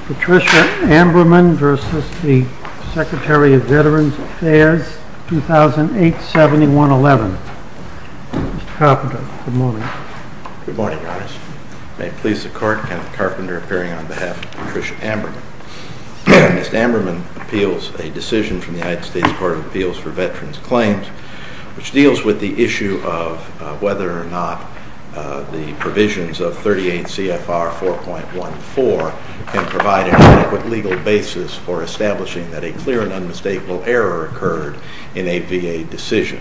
Patricia Amberman v. Secretary of Veterans Affairs, 2008-71-11. Mr. Carpenter, good morning. Good morning, Your Honor. May it please the Court, Kenneth Carpenter appearing on behalf of Patricia Amberman. Ms. Amberman appeals a decision from the United States Court of Appeals for Veterans Claims which deals with the issue of whether or not the provisions of 38 CFR 4.14 can provide an adequate legal basis for establishing that a clear and unmistakable error occurred in a VA decision.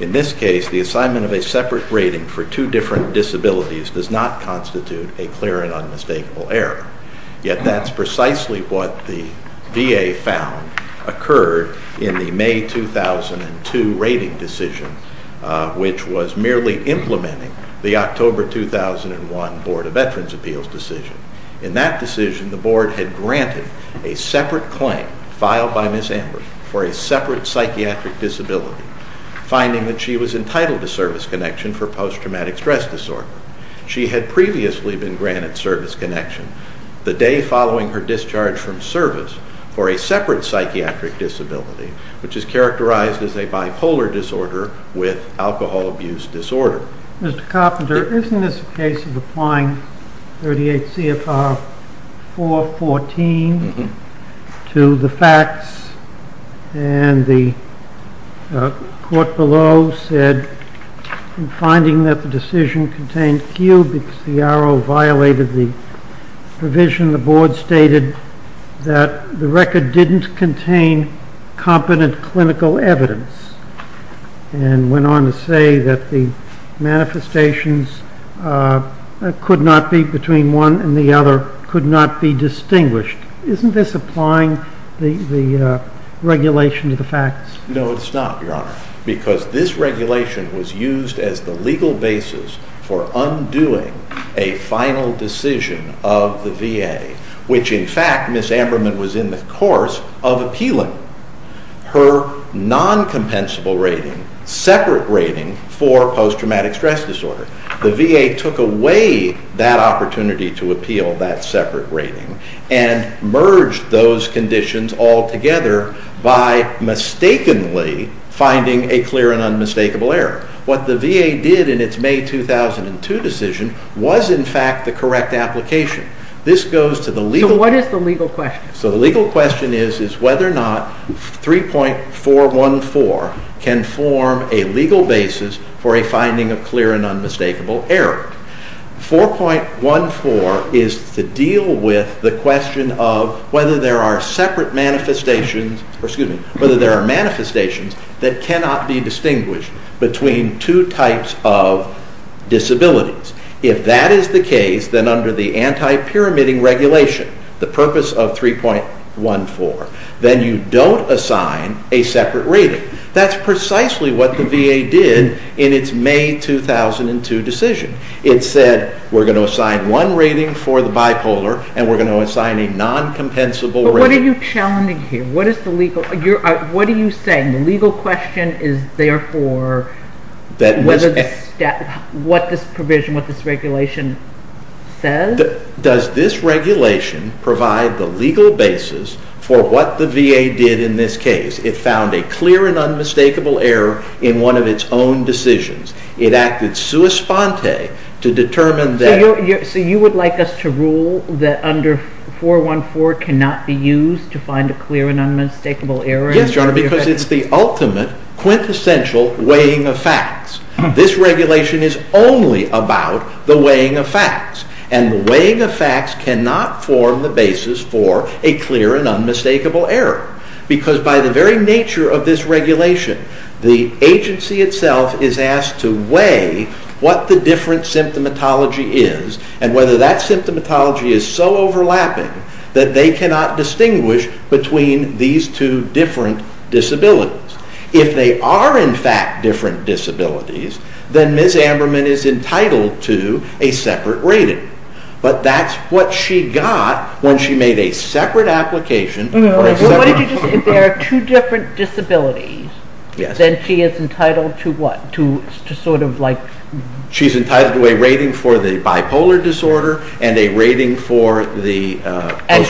In this case, the assignment of a separate rating for two different disabilities does not constitute a clear and unmistakable error. Yet that's precisely what the VA found occurred in the May 2002 rating decision, which was merely implementing the October 2001 Board of Veterans Appeals decision. In that decision, the Board had granted a separate claim filed by Ms. Amberman for a separate psychiatric disability, finding that she was entitled to service connection for post-traumatic stress disorder. She had previously been granted service connection the day following her discharge from service for a separate psychiatric disability, which is characterized as a bipolar disorder with alcohol abuse disorder. Mr. Carpenter, isn't this a case of applying 38 CFR 4.14 to the facts? And the court below said in finding that the decision contained Q because the arrow violated the provision, the Board stated that the record didn't contain competent clinical evidence and went on to say that the manifestations could not be between one and the other, could not be distinguished. Isn't this applying the regulation to the facts? No, it's not, Your Honor, because this regulation was used as the legal basis for undoing a final decision of the VA, which in fact Ms. Amberman was in the course of appealing. Her non-compensable rating, separate rating for post-traumatic stress disorder, the VA took away that opportunity to appeal that separate rating and merged those conditions all together by mistakenly finding a clear and unmistakable error. What the VA did in its May 2002 decision was in fact the correct application. So what is the legal question? The legal question is whether or not 3.414 can form a legal basis for a finding of clear and unmistakable error. 4.14 is to deal with the question of whether there are separate manifestations, excuse me, whether there are manifestations that cannot be distinguished between two types of disabilities. If that is the case, then under the anti-pyramiding regulation, the purpose of 3.14, then you don't assign a separate rating. That's precisely what the VA did in its May 2002 decision. It said we're going to assign one rating for the bipolar and we're going to assign a non-compensable rating. But what are you challenging here? What are you saying? The legal question is therefore what this provision, what this regulation says? Does this regulation provide the legal basis for what the VA did in this case? It found a clear and unmistakable error in one of its own decisions. It acted sua sponte to determine that. So you would like us to rule that under 4.14 cannot be used to find a clear and unmistakable error? Yes, because it's the ultimate quintessential weighing of facts. This regulation is only about the weighing of facts. And the weighing of facts cannot form the basis for a clear and unmistakable error. Because by the very nature of this regulation, the agency itself is asked to weigh what the different symptomatology is and whether that symptomatology is so overlapping that they cannot distinguish between these two different disabilities. If they are in fact different disabilities, then Ms. Amberman is entitled to a separate rating. But that's what she got when she made a separate application. If there are two different disabilities, then she is entitled to what? She's entitled to a rating for the bipolar disorder and a rating for the post-traumatic stress disorder. And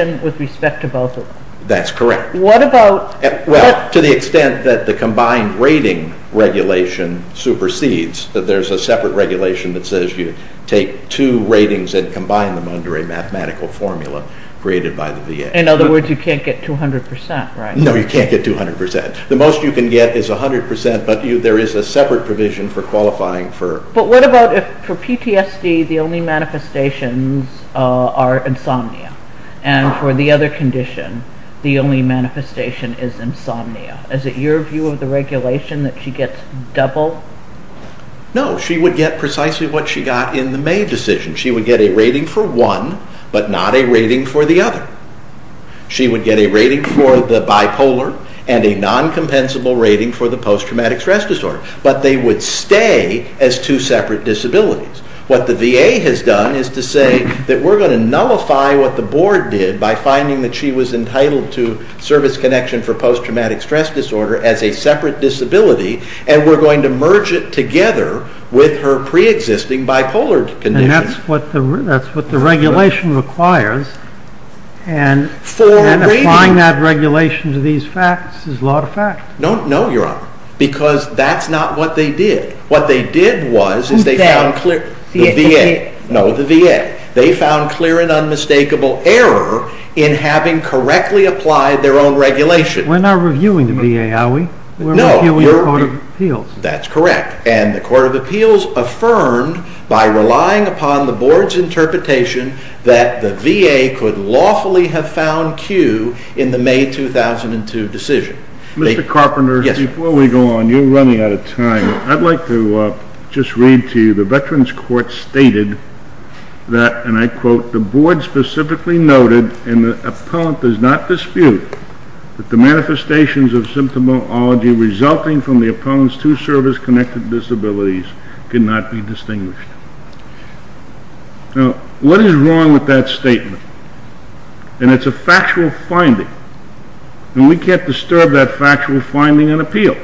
compensation with respect to both of them? That's correct. To the extent that the combined rating regulation supersedes. There's a separate regulation that says you take two ratings and combine them under a mathematical formula created by the VA. In other words, you can't get 200%, right? No, you can't get 200%. The most you can get is 100%, but there is a separate provision for qualifying. But what about if for PTSD the only manifestations are insomnia? And for the other condition, the only manifestation is insomnia. Is it your view of the regulation that she gets double? No, she would get precisely what she got in the May decision. She would get a rating for one, but not a rating for the other. She would get a rating for the bipolar and a non-compensable rating for the post-traumatic stress disorder. But they would stay as two separate disabilities. What the VA has done is to say that we're going to nullify what the board did by finding that she was entitled to service connection for post-traumatic stress disorder as a separate disability, and we're going to merge it together with her pre-existing bipolar condition. And that's what the regulation requires. And applying that regulation to these facts is a lot of facts. No, Your Honor, because that's not what they did. What they did was they found clear... Who did? The VA. No, the VA. They found clear and unmistakable error in having correctly applied their own regulation. We're not reviewing the VA, are we? No. We're reviewing the Court of Appeals. That's correct. And the Court of Appeals affirmed, by relying upon the board's interpretation, that the VA could lawfully have found Q in the May 2002 decision. Mr. Carpenter, before we go on, you're running out of time. I'd like to just read to you, the Veterans Court stated that, and I quote, the board specifically noted, and the appellant does not dispute, that the manifestations of symptomatology resulting from the appellant's two service-connected disabilities cannot be distinguished. Now, what is wrong with that statement? And it's a factual finding. And we can't disturb that factual finding in appeal.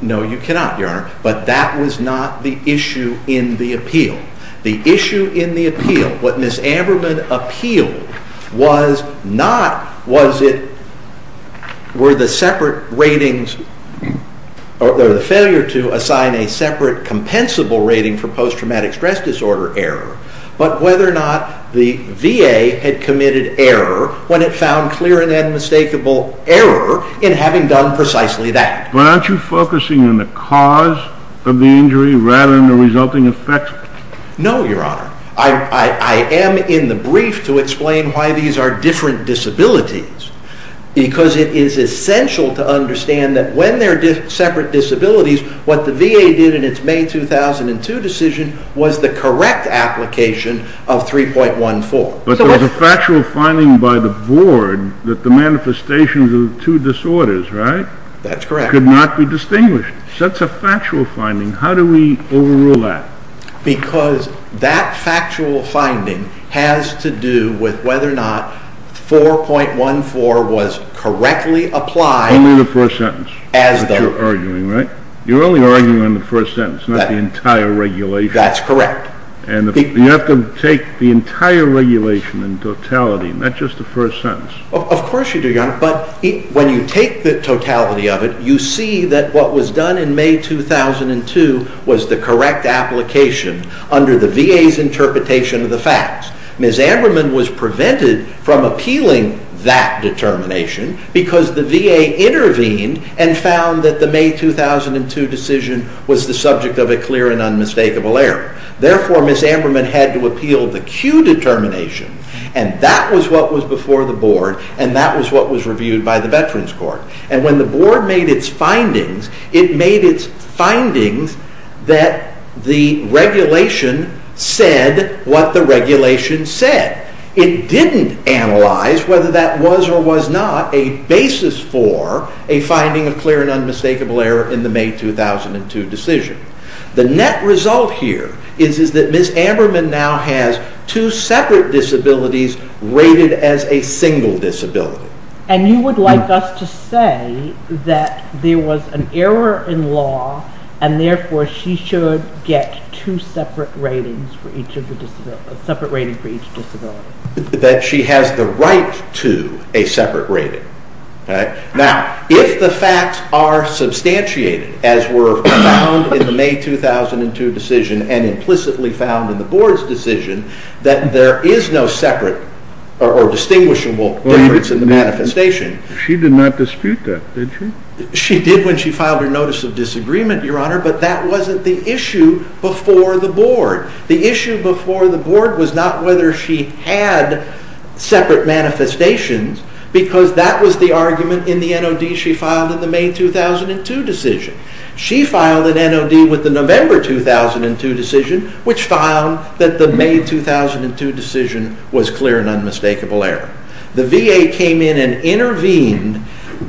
No, you cannot, Your Honor. But that was not the issue in the appeal. The issue in the appeal, what Ms. Amberman appealed, was not whether the failure to assign a separate compensable rating for post-traumatic stress disorder error, but whether or not the VA had committed error when it found clear and unmistakable error in having done precisely that. But aren't you focusing on the cause of the injury rather than the resulting effects? No, Your Honor. I am in the brief to explain why these are different disabilities, because it is essential to understand that when they're separate disabilities, what the VA did in its May 2002 decision was the correct application of 3.14. But there was a factual finding by the board that the manifestations of the two disorders, right? That's correct. Could not be distinguished. That's a factual finding. How do we overrule that? Because that factual finding has to do with whether or not 4.14 was correctly applied. Only the first sentence. As the... You're arguing, right? You're only arguing on the first sentence, not the entire regulation. That's correct. And you have to take the entire regulation in totality, not just the first sentence. Of course you do, Your Honor. But when you take the totality of it, you see that what was done in May 2002 was the correct application under the VA's interpretation of the facts. Ms. Amberman was prevented from appealing that determination because the VA intervened and found that the May 2002 decision was the subject of a clear and unmistakable error. Therefore, Ms. Amberman had to appeal the Q determination, and that was what was before the Board, and that was what was reviewed by the Veterans Court. And when the Board made its findings, it made its findings that the regulation said what the regulation said. It didn't analyze whether that was or was not a basis for a finding of clear and unmistakable error in the May 2002 decision. The net result here is that Ms. Amberman now has two separate disabilities rated as a single disability. And you would like us to say that there was an error in law and therefore she should get two separate ratings for each disability? That she has the right to a separate rating. Now, if the facts are substantiated, as were found in the May 2002 decision and implicitly found in the Board's decision, that there is no separate or distinguishable difference in the manifestation. She did not dispute that, did she? She did when she filed her Notice of Disagreement, Your Honor, but that wasn't the issue before the Board. The issue before the Board was not whether she had separate manifestations because that was the argument in the NOD she filed in the May 2002 decision. She filed an NOD with the November 2002 decision, which found that the May 2002 decision was clear and unmistakable error. The VA came in and intervened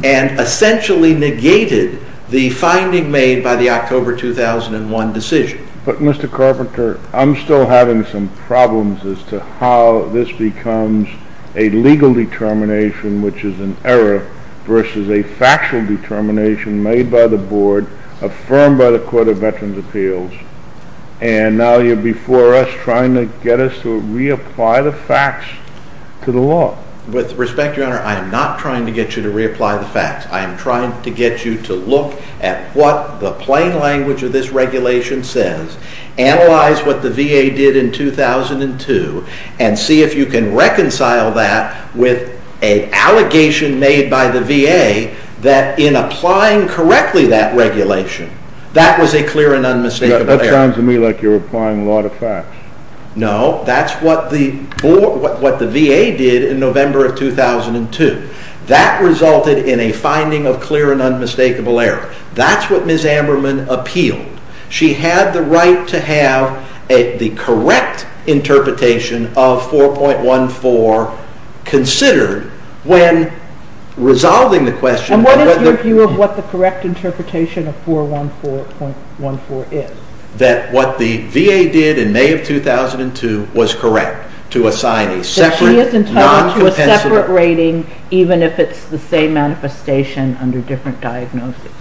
and essentially negated the finding made by the October 2001 decision. But Mr. Carpenter, I'm still having some problems as to how this becomes a legal determination, which is an error, versus a factual determination made by the Board, affirmed by the Court of Veterans' Appeals, and now you're before us trying to get us to reapply the facts to the law. With respect, Your Honor, I am not trying to get you to reapply the facts. I am trying to get you to look at what the plain language of this regulation says, analyze what the VA did in 2002, and see if you can reconcile that with an allegation made by the VA that in applying correctly that regulation, that was a clear and unmistakable error. That sounds to me like you're applying a lot of facts. No, that's what the VA did in November 2002. That resulted in a finding of clear and unmistakable error. That's what Ms. Amberman appealed. She had the right to have the correct interpretation of 4.14 considered when resolving the question. And what is your view of what the correct interpretation of 414.14 is? That what the VA did in May of 2002 was correct, to assign a separate non-compensatory... That she is entitled to a separate rating, even if it's the same manifestation under different diagnoses.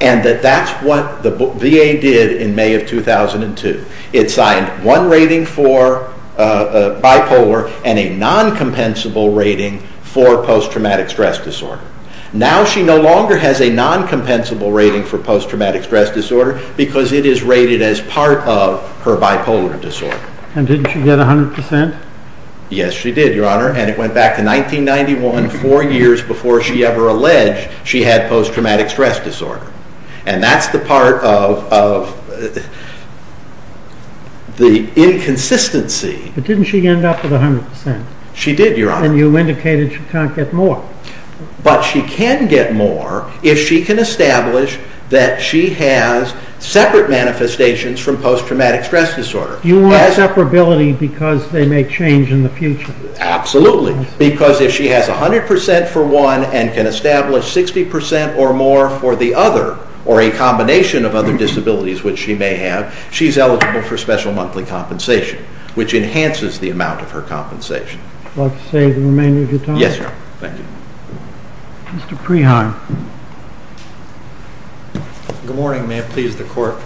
And that that's what the VA did in May of 2002. It signed one rating for bipolar and a non-compensable rating for post-traumatic stress disorder. Now she no longer has a non-compensable rating for post-traumatic stress disorder because it is rated as part of her bipolar disorder. And didn't she get 100%? Yes, she did, Your Honor, and it went back to 1991, four years before she ever alleged she had post-traumatic stress disorder. And that's the part of the inconsistency. But didn't she end up with 100%? She did, Your Honor. And you indicated she can't get more. But she can get more if she can establish that she has separate manifestations from post-traumatic stress disorder. You want separability because they may change in the future. Absolutely, because if she has 100% for one and can establish 60% or more for the other or a combination of other disabilities which she may have, she's eligible for special monthly compensation, which enhances the amount of her compensation. Would you like to say the remainder of your time? Yes, Your Honor. Thank you. Mr. Preheim. Good morning. May it please the Court.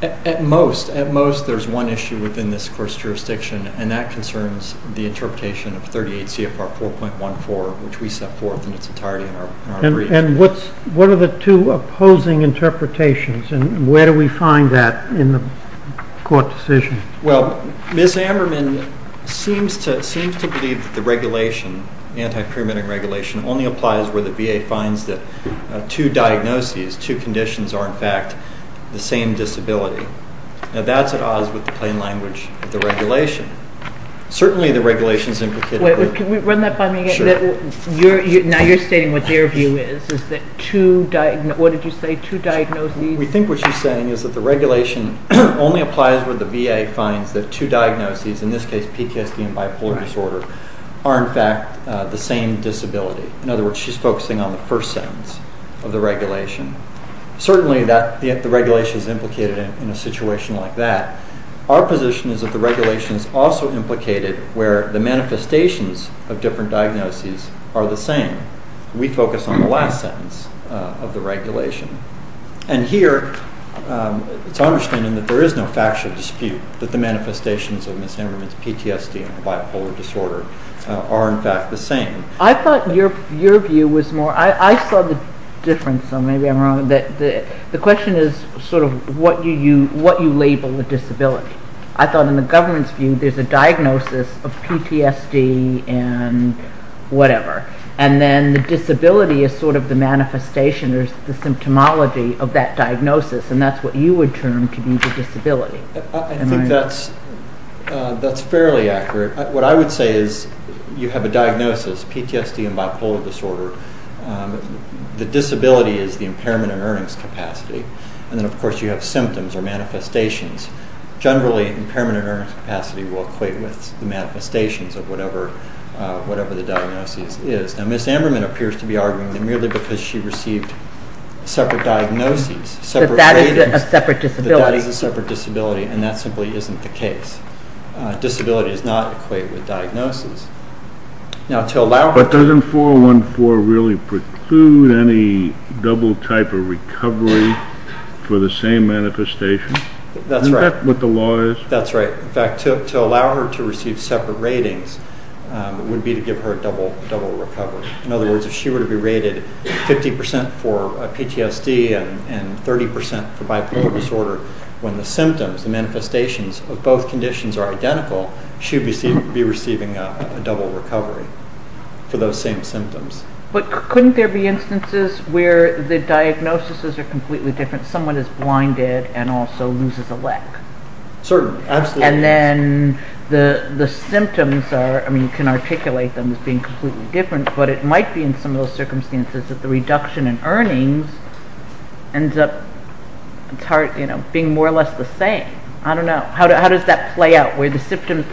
At most, there's one issue within this Court's jurisdiction, and that concerns the interpretation of 38 CFR 4.14, which we set forth in its entirety in our brief. And what are the two opposing interpretations, and where do we find that in the Court decision? Well, Ms. Ammerman seems to believe that the regulation, anti-pyramid regulation, only applies where the VA finds that two diagnoses, two conditions, are in fact the same disability. Now, that's at odds with the plain language of the regulation. Certainly, the regulation is implicated... Wait, can we run that by me again? Sure. Now, you're stating what their view is, is that two diagnoses... What did you say? Two diagnoses? We think what she's saying is that the regulation only applies where the VA finds that two diagnoses, in this case PKSD and bipolar disorder, are in fact the same disability. In other words, she's focusing on the first sentence of the regulation. Certainly, the regulation is implicated in a situation like that. Our position is that the regulation is also implicated where the manifestations of different diagnoses are the same. We focus on the last sentence of the regulation. And here, it's our understanding that there is no factual dispute that the manifestations of Ms. Ammerman's PTSD and bipolar disorder are in fact the same. I thought your view was more... I saw the difference, so maybe I'm wrong. The question is sort of what you label a disability. I thought in the government's view, there's a diagnosis of PTSD and whatever, and then the disability is sort of the manifestation or the symptomology of that diagnosis, and that's what you would term to be the disability. I think that's fairly accurate. What I would say is you have a diagnosis, PTSD and bipolar disorder. The disability is the impairment in earnings capacity, and then of course you have symptoms or manifestations. Generally, impairment in earnings capacity will equate with the manifestations of whatever the diagnosis is. Now, Ms. Ammerman appears to be arguing that merely because she received separate diagnoses, separate ratings, that that is a separate disability, and that simply isn't the case. Disability does not equate with diagnosis. But doesn't 414 really preclude any double type of recovery for the same manifestation? Isn't that what the law is? That's right. In fact, to allow her to receive separate ratings would be to give her a double recovery. In other words, if she were to be rated 50% for PTSD and 30% for bipolar disorder, when the symptoms and manifestations of both conditions are identical, she would be receiving a double recovery for those same symptoms. But couldn't there be instances where the diagnoses are completely different? Someone is blinded and also loses a leg. Certainly. Absolutely. And then the symptoms are, I mean, you can articulate them as being completely different, but it might be in some of those circumstances that the reduction in earnings ends up being more or less the same. I don't know. How does that play out, where the symptoms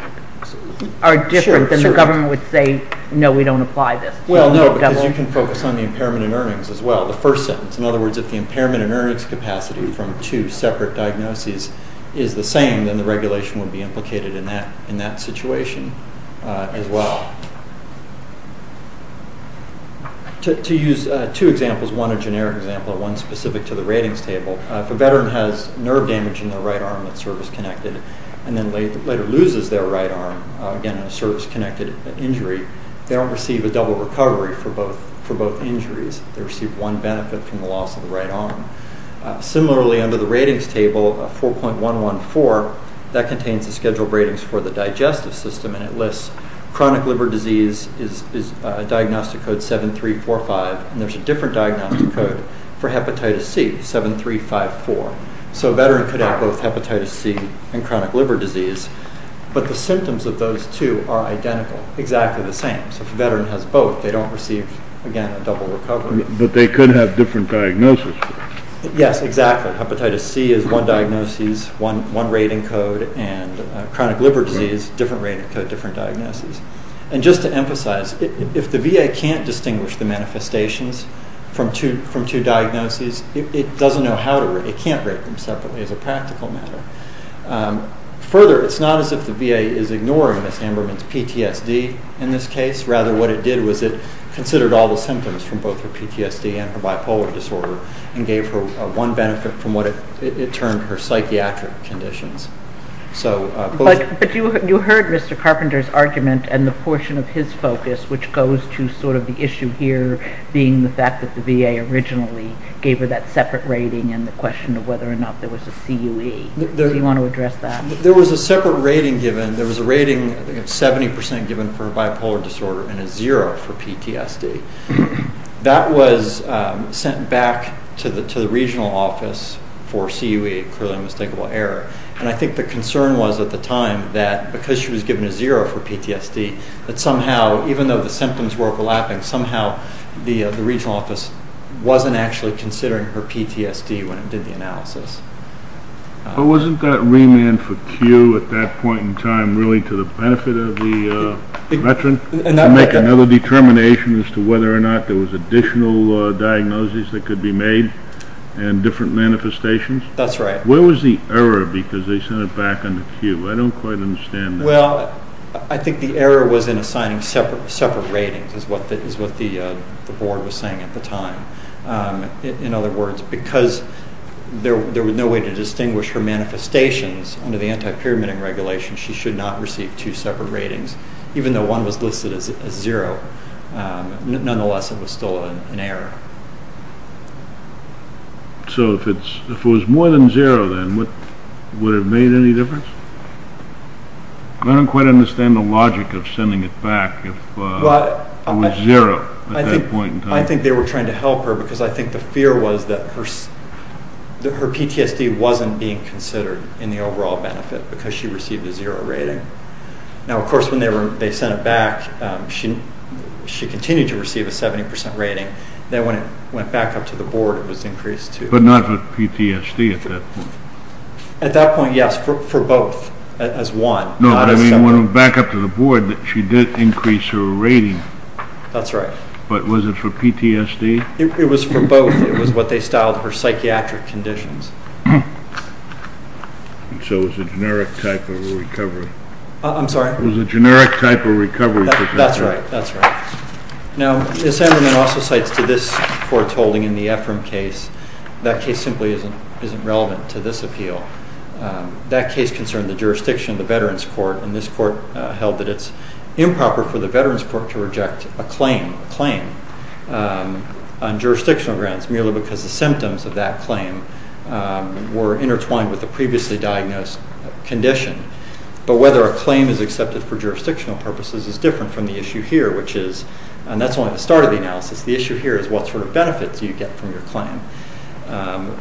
are different than the government would say, no, we don't apply this? Well, no, because you can focus on the impairment in earnings as well. The first sentence. In other words, if the impairment in earnings capacity from two separate diagnoses is the same, then the regulation would be implicated in that situation as well. To use two examples, one a generic example and one specific to the ratings table, if a veteran has nerve damage in their right arm that's service-connected and then later loses their right arm, again, in a service-connected injury, they don't receive a double recovery for both injuries. They receive one benefit from the loss of the right arm. Similarly, under the ratings table, 4.114, that contains the scheduled ratings for the digestive system, and it lists chronic liver disease is diagnostic code 7345, and there's a different diagnostic code for hepatitis C, 7354. So a veteran could have both hepatitis C and chronic liver disease, but the symptoms of those two are identical, exactly the same. So if a veteran has both, they don't receive, again, a double recovery. But they could have different diagnoses. Yes, exactly. Hepatitis C is one diagnosis, one rating code, and chronic liver disease, different rating code, different diagnosis. And just to emphasize, if the VA can't distinguish the manifestations from two diagnoses, it doesn't know how to rate them. It can't rate them separately as a practical matter. Further, it's not as if the VA is ignoring Miss Amberman's PTSD in this case. Rather, what it did was it considered all the symptoms from both her PTSD and her bipolar disorder and gave her one benefit from what it termed her psychiatric conditions. But you heard Mr. Carpenter's argument and the portion of his focus, which goes to sort of the issue here being the fact that the VA originally gave her that separate rating and the question of whether or not there was a CUE. Do you want to address that? There was a separate rating given. There was a rating of 70% given for bipolar disorder and a 0 for PTSD. That was sent back to the regional office for CUE, clearly unmistakable error. And I think the concern was at the time that because she was given a 0 for PTSD, that somehow, even though the symptoms were overlapping, somehow the regional office wasn't actually considering her PTSD when it did the analysis. But wasn't that remand for Q at that point in time really to the benefit of the veteran? To make another determination as to whether or not there was additional diagnoses that could be made and different manifestations? That's right. Where was the error because they sent it back under CUE? I don't quite understand that. Well, I think the error was in assigning separate ratings, is what the board was saying at the time. In other words, because there was no way to distinguish her manifestations under the anti-pyramid regulation, she should not receive two separate ratings, even though one was listed as 0. Nonetheless, it was still an error. So if it was more than 0 then, would it have made any difference? I don't quite understand the logic of sending it back if it was 0 at that point in time. I think they were trying to help her because I think the fear was that her PTSD wasn't being considered in the overall benefit because she received a 0 rating. Now, of course, when they sent it back, she continued to receive a 70% rating. Then when it went back up to the board, it was increased to— But not for PTSD at that point? At that point, yes, for both as one. No, but I mean when it went back up to the board, she did increase her rating. That's right. But was it for PTSD? It was for both. It was what they styled her psychiatric conditions. So it was a generic type of recovery. I'm sorry? It was a generic type of recovery. That's right. Now, Sanderman also cites to this foretold in the Ephraim case, that case simply isn't relevant to this appeal. That case concerned the jurisdiction of the Veterans Court, and this court held that it's improper for the Veterans Court to reject a claim on jurisdictional grounds merely because the symptoms of that claim were intertwined with the previously diagnosed condition. But whether a claim is accepted for jurisdictional purposes is different from the issue here, which is— and that's only the start of the analysis. The issue here is what sort of benefits you get from your claim.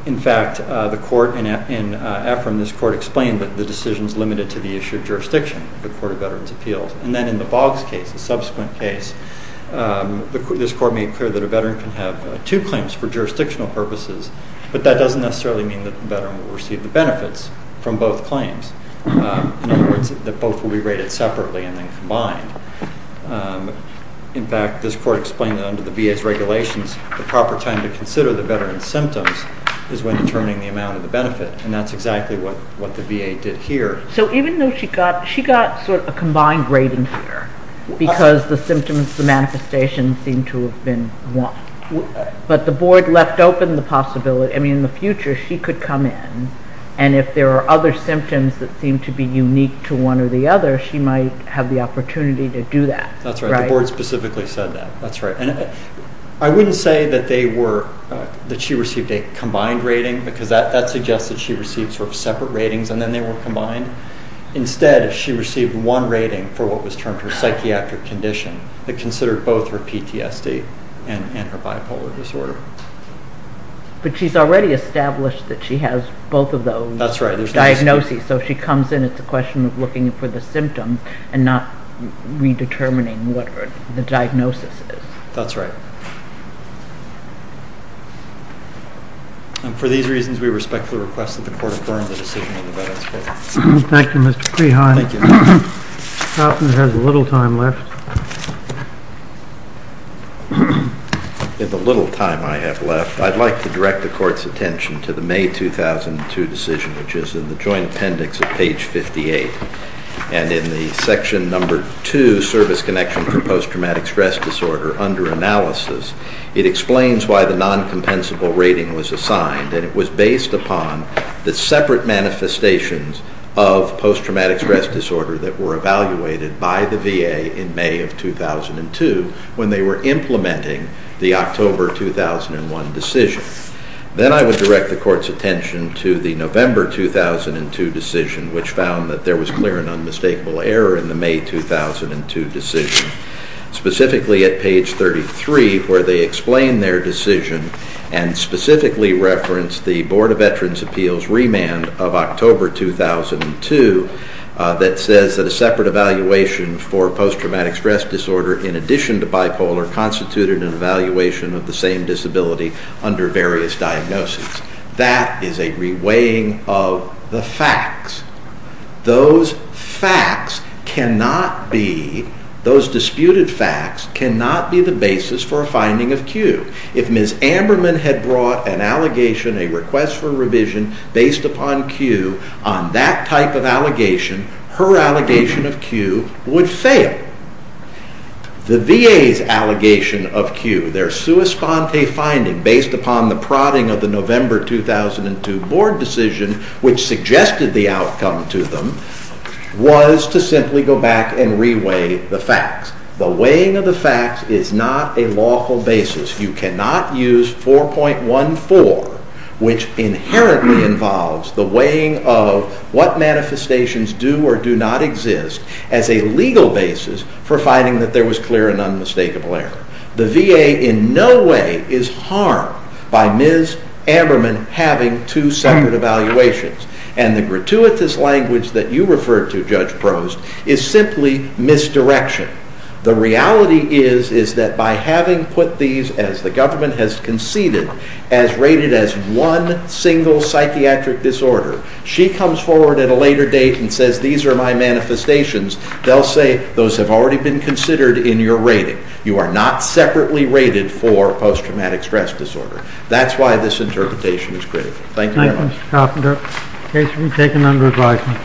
In fact, the court in Ephraim, this court, explained that the decision is limited to the issue of jurisdiction, the Court of Veterans Appeals. And then in the Boggs case, the subsequent case, this court made clear that a veteran can have two claims for jurisdictional purposes, but that doesn't necessarily mean that the veteran will receive the benefits from both claims. In other words, that both will be rated separately and then combined. In fact, this court explained that under the VA's regulations, the proper time to consider the veteran's symptoms is when determining the amount of the benefit, and that's exactly what the VA did here. So even though she got sort of a combined rating here because the symptoms, the manifestations seem to have been one, but the board left open the possibility— I mean, in the future, she could come in, and if there are other symptoms that seem to be unique to one or the other, she might have the opportunity to do that. That's right. The board specifically said that. That's right. And I wouldn't say that they were—that she received a combined rating because that suggests that she received sort of separate ratings and then they were combined. Instead, she received one rating for what was termed her psychiatric condition that considered both her PTSD and her bipolar disorder. But she's already established that she has both of those diagnoses. That's right. So if she comes in, it's a question of looking for the symptoms and not redetermining what the diagnosis is. That's right. And for these reasons, we respectfully request that the court affirm the decision of the veterans' court. Thank you, Mr. Prihan. Thank you. In the little time I have left, I'd like to direct the court's attention to the May 2002 decision, which is in the joint appendix of page 58. And in the section number 2, service connection for post-traumatic stress disorder under analysis, it explains why the non-compensable rating was assigned, and it was based upon the separate manifestations of post-traumatic stress disorder that were evaluated by the VA in May of 2002 when they were implementing the October 2001 decision. Then I would direct the court's attention to the November 2002 decision, which found that there was clear and unmistakable error in the May 2002 decision, specifically at page 33, where they explain their decision and specifically reference the Board of Veterans' Appeals remand of October 2002 that says that a separate evaluation for post-traumatic stress disorder in addition to bipolar constituted an evaluation of the same disability under various diagnoses. That is a reweighing of the facts. Those facts cannot be, those disputed facts, cannot be the basis for a finding of Q. If Ms. Amberman had brought an allegation, a request for revision, based upon Q on that type of allegation, her allegation of Q would fail. The VA's allegation of Q, their sua sponte finding, based upon the prodding of the November 2002 board decision, which suggested the outcome to them, was to simply go back and reweigh the facts. The weighing of the facts is not a lawful basis. You cannot use 4.14, which inherently involves the weighing of what manifestations do or do not exist, as a legal basis for finding that there was clear and unmistakable error. The VA in no way is harmed by Ms. Amberman having two separate evaluations. And the gratuitous language that you referred to, Judge Prost, is simply misdirection. The reality is, is that by having put these, as the government has conceded, as rated as one single psychiatric disorder, she comes forward at a later date and says, these are my manifestations, they'll say, those have already been considered in your rating. You are not separately rated for post-traumatic stress disorder. That's why this interpretation is critical. Thank you very much. Thank you, Mr. Koffender. The case will be taken under advisement.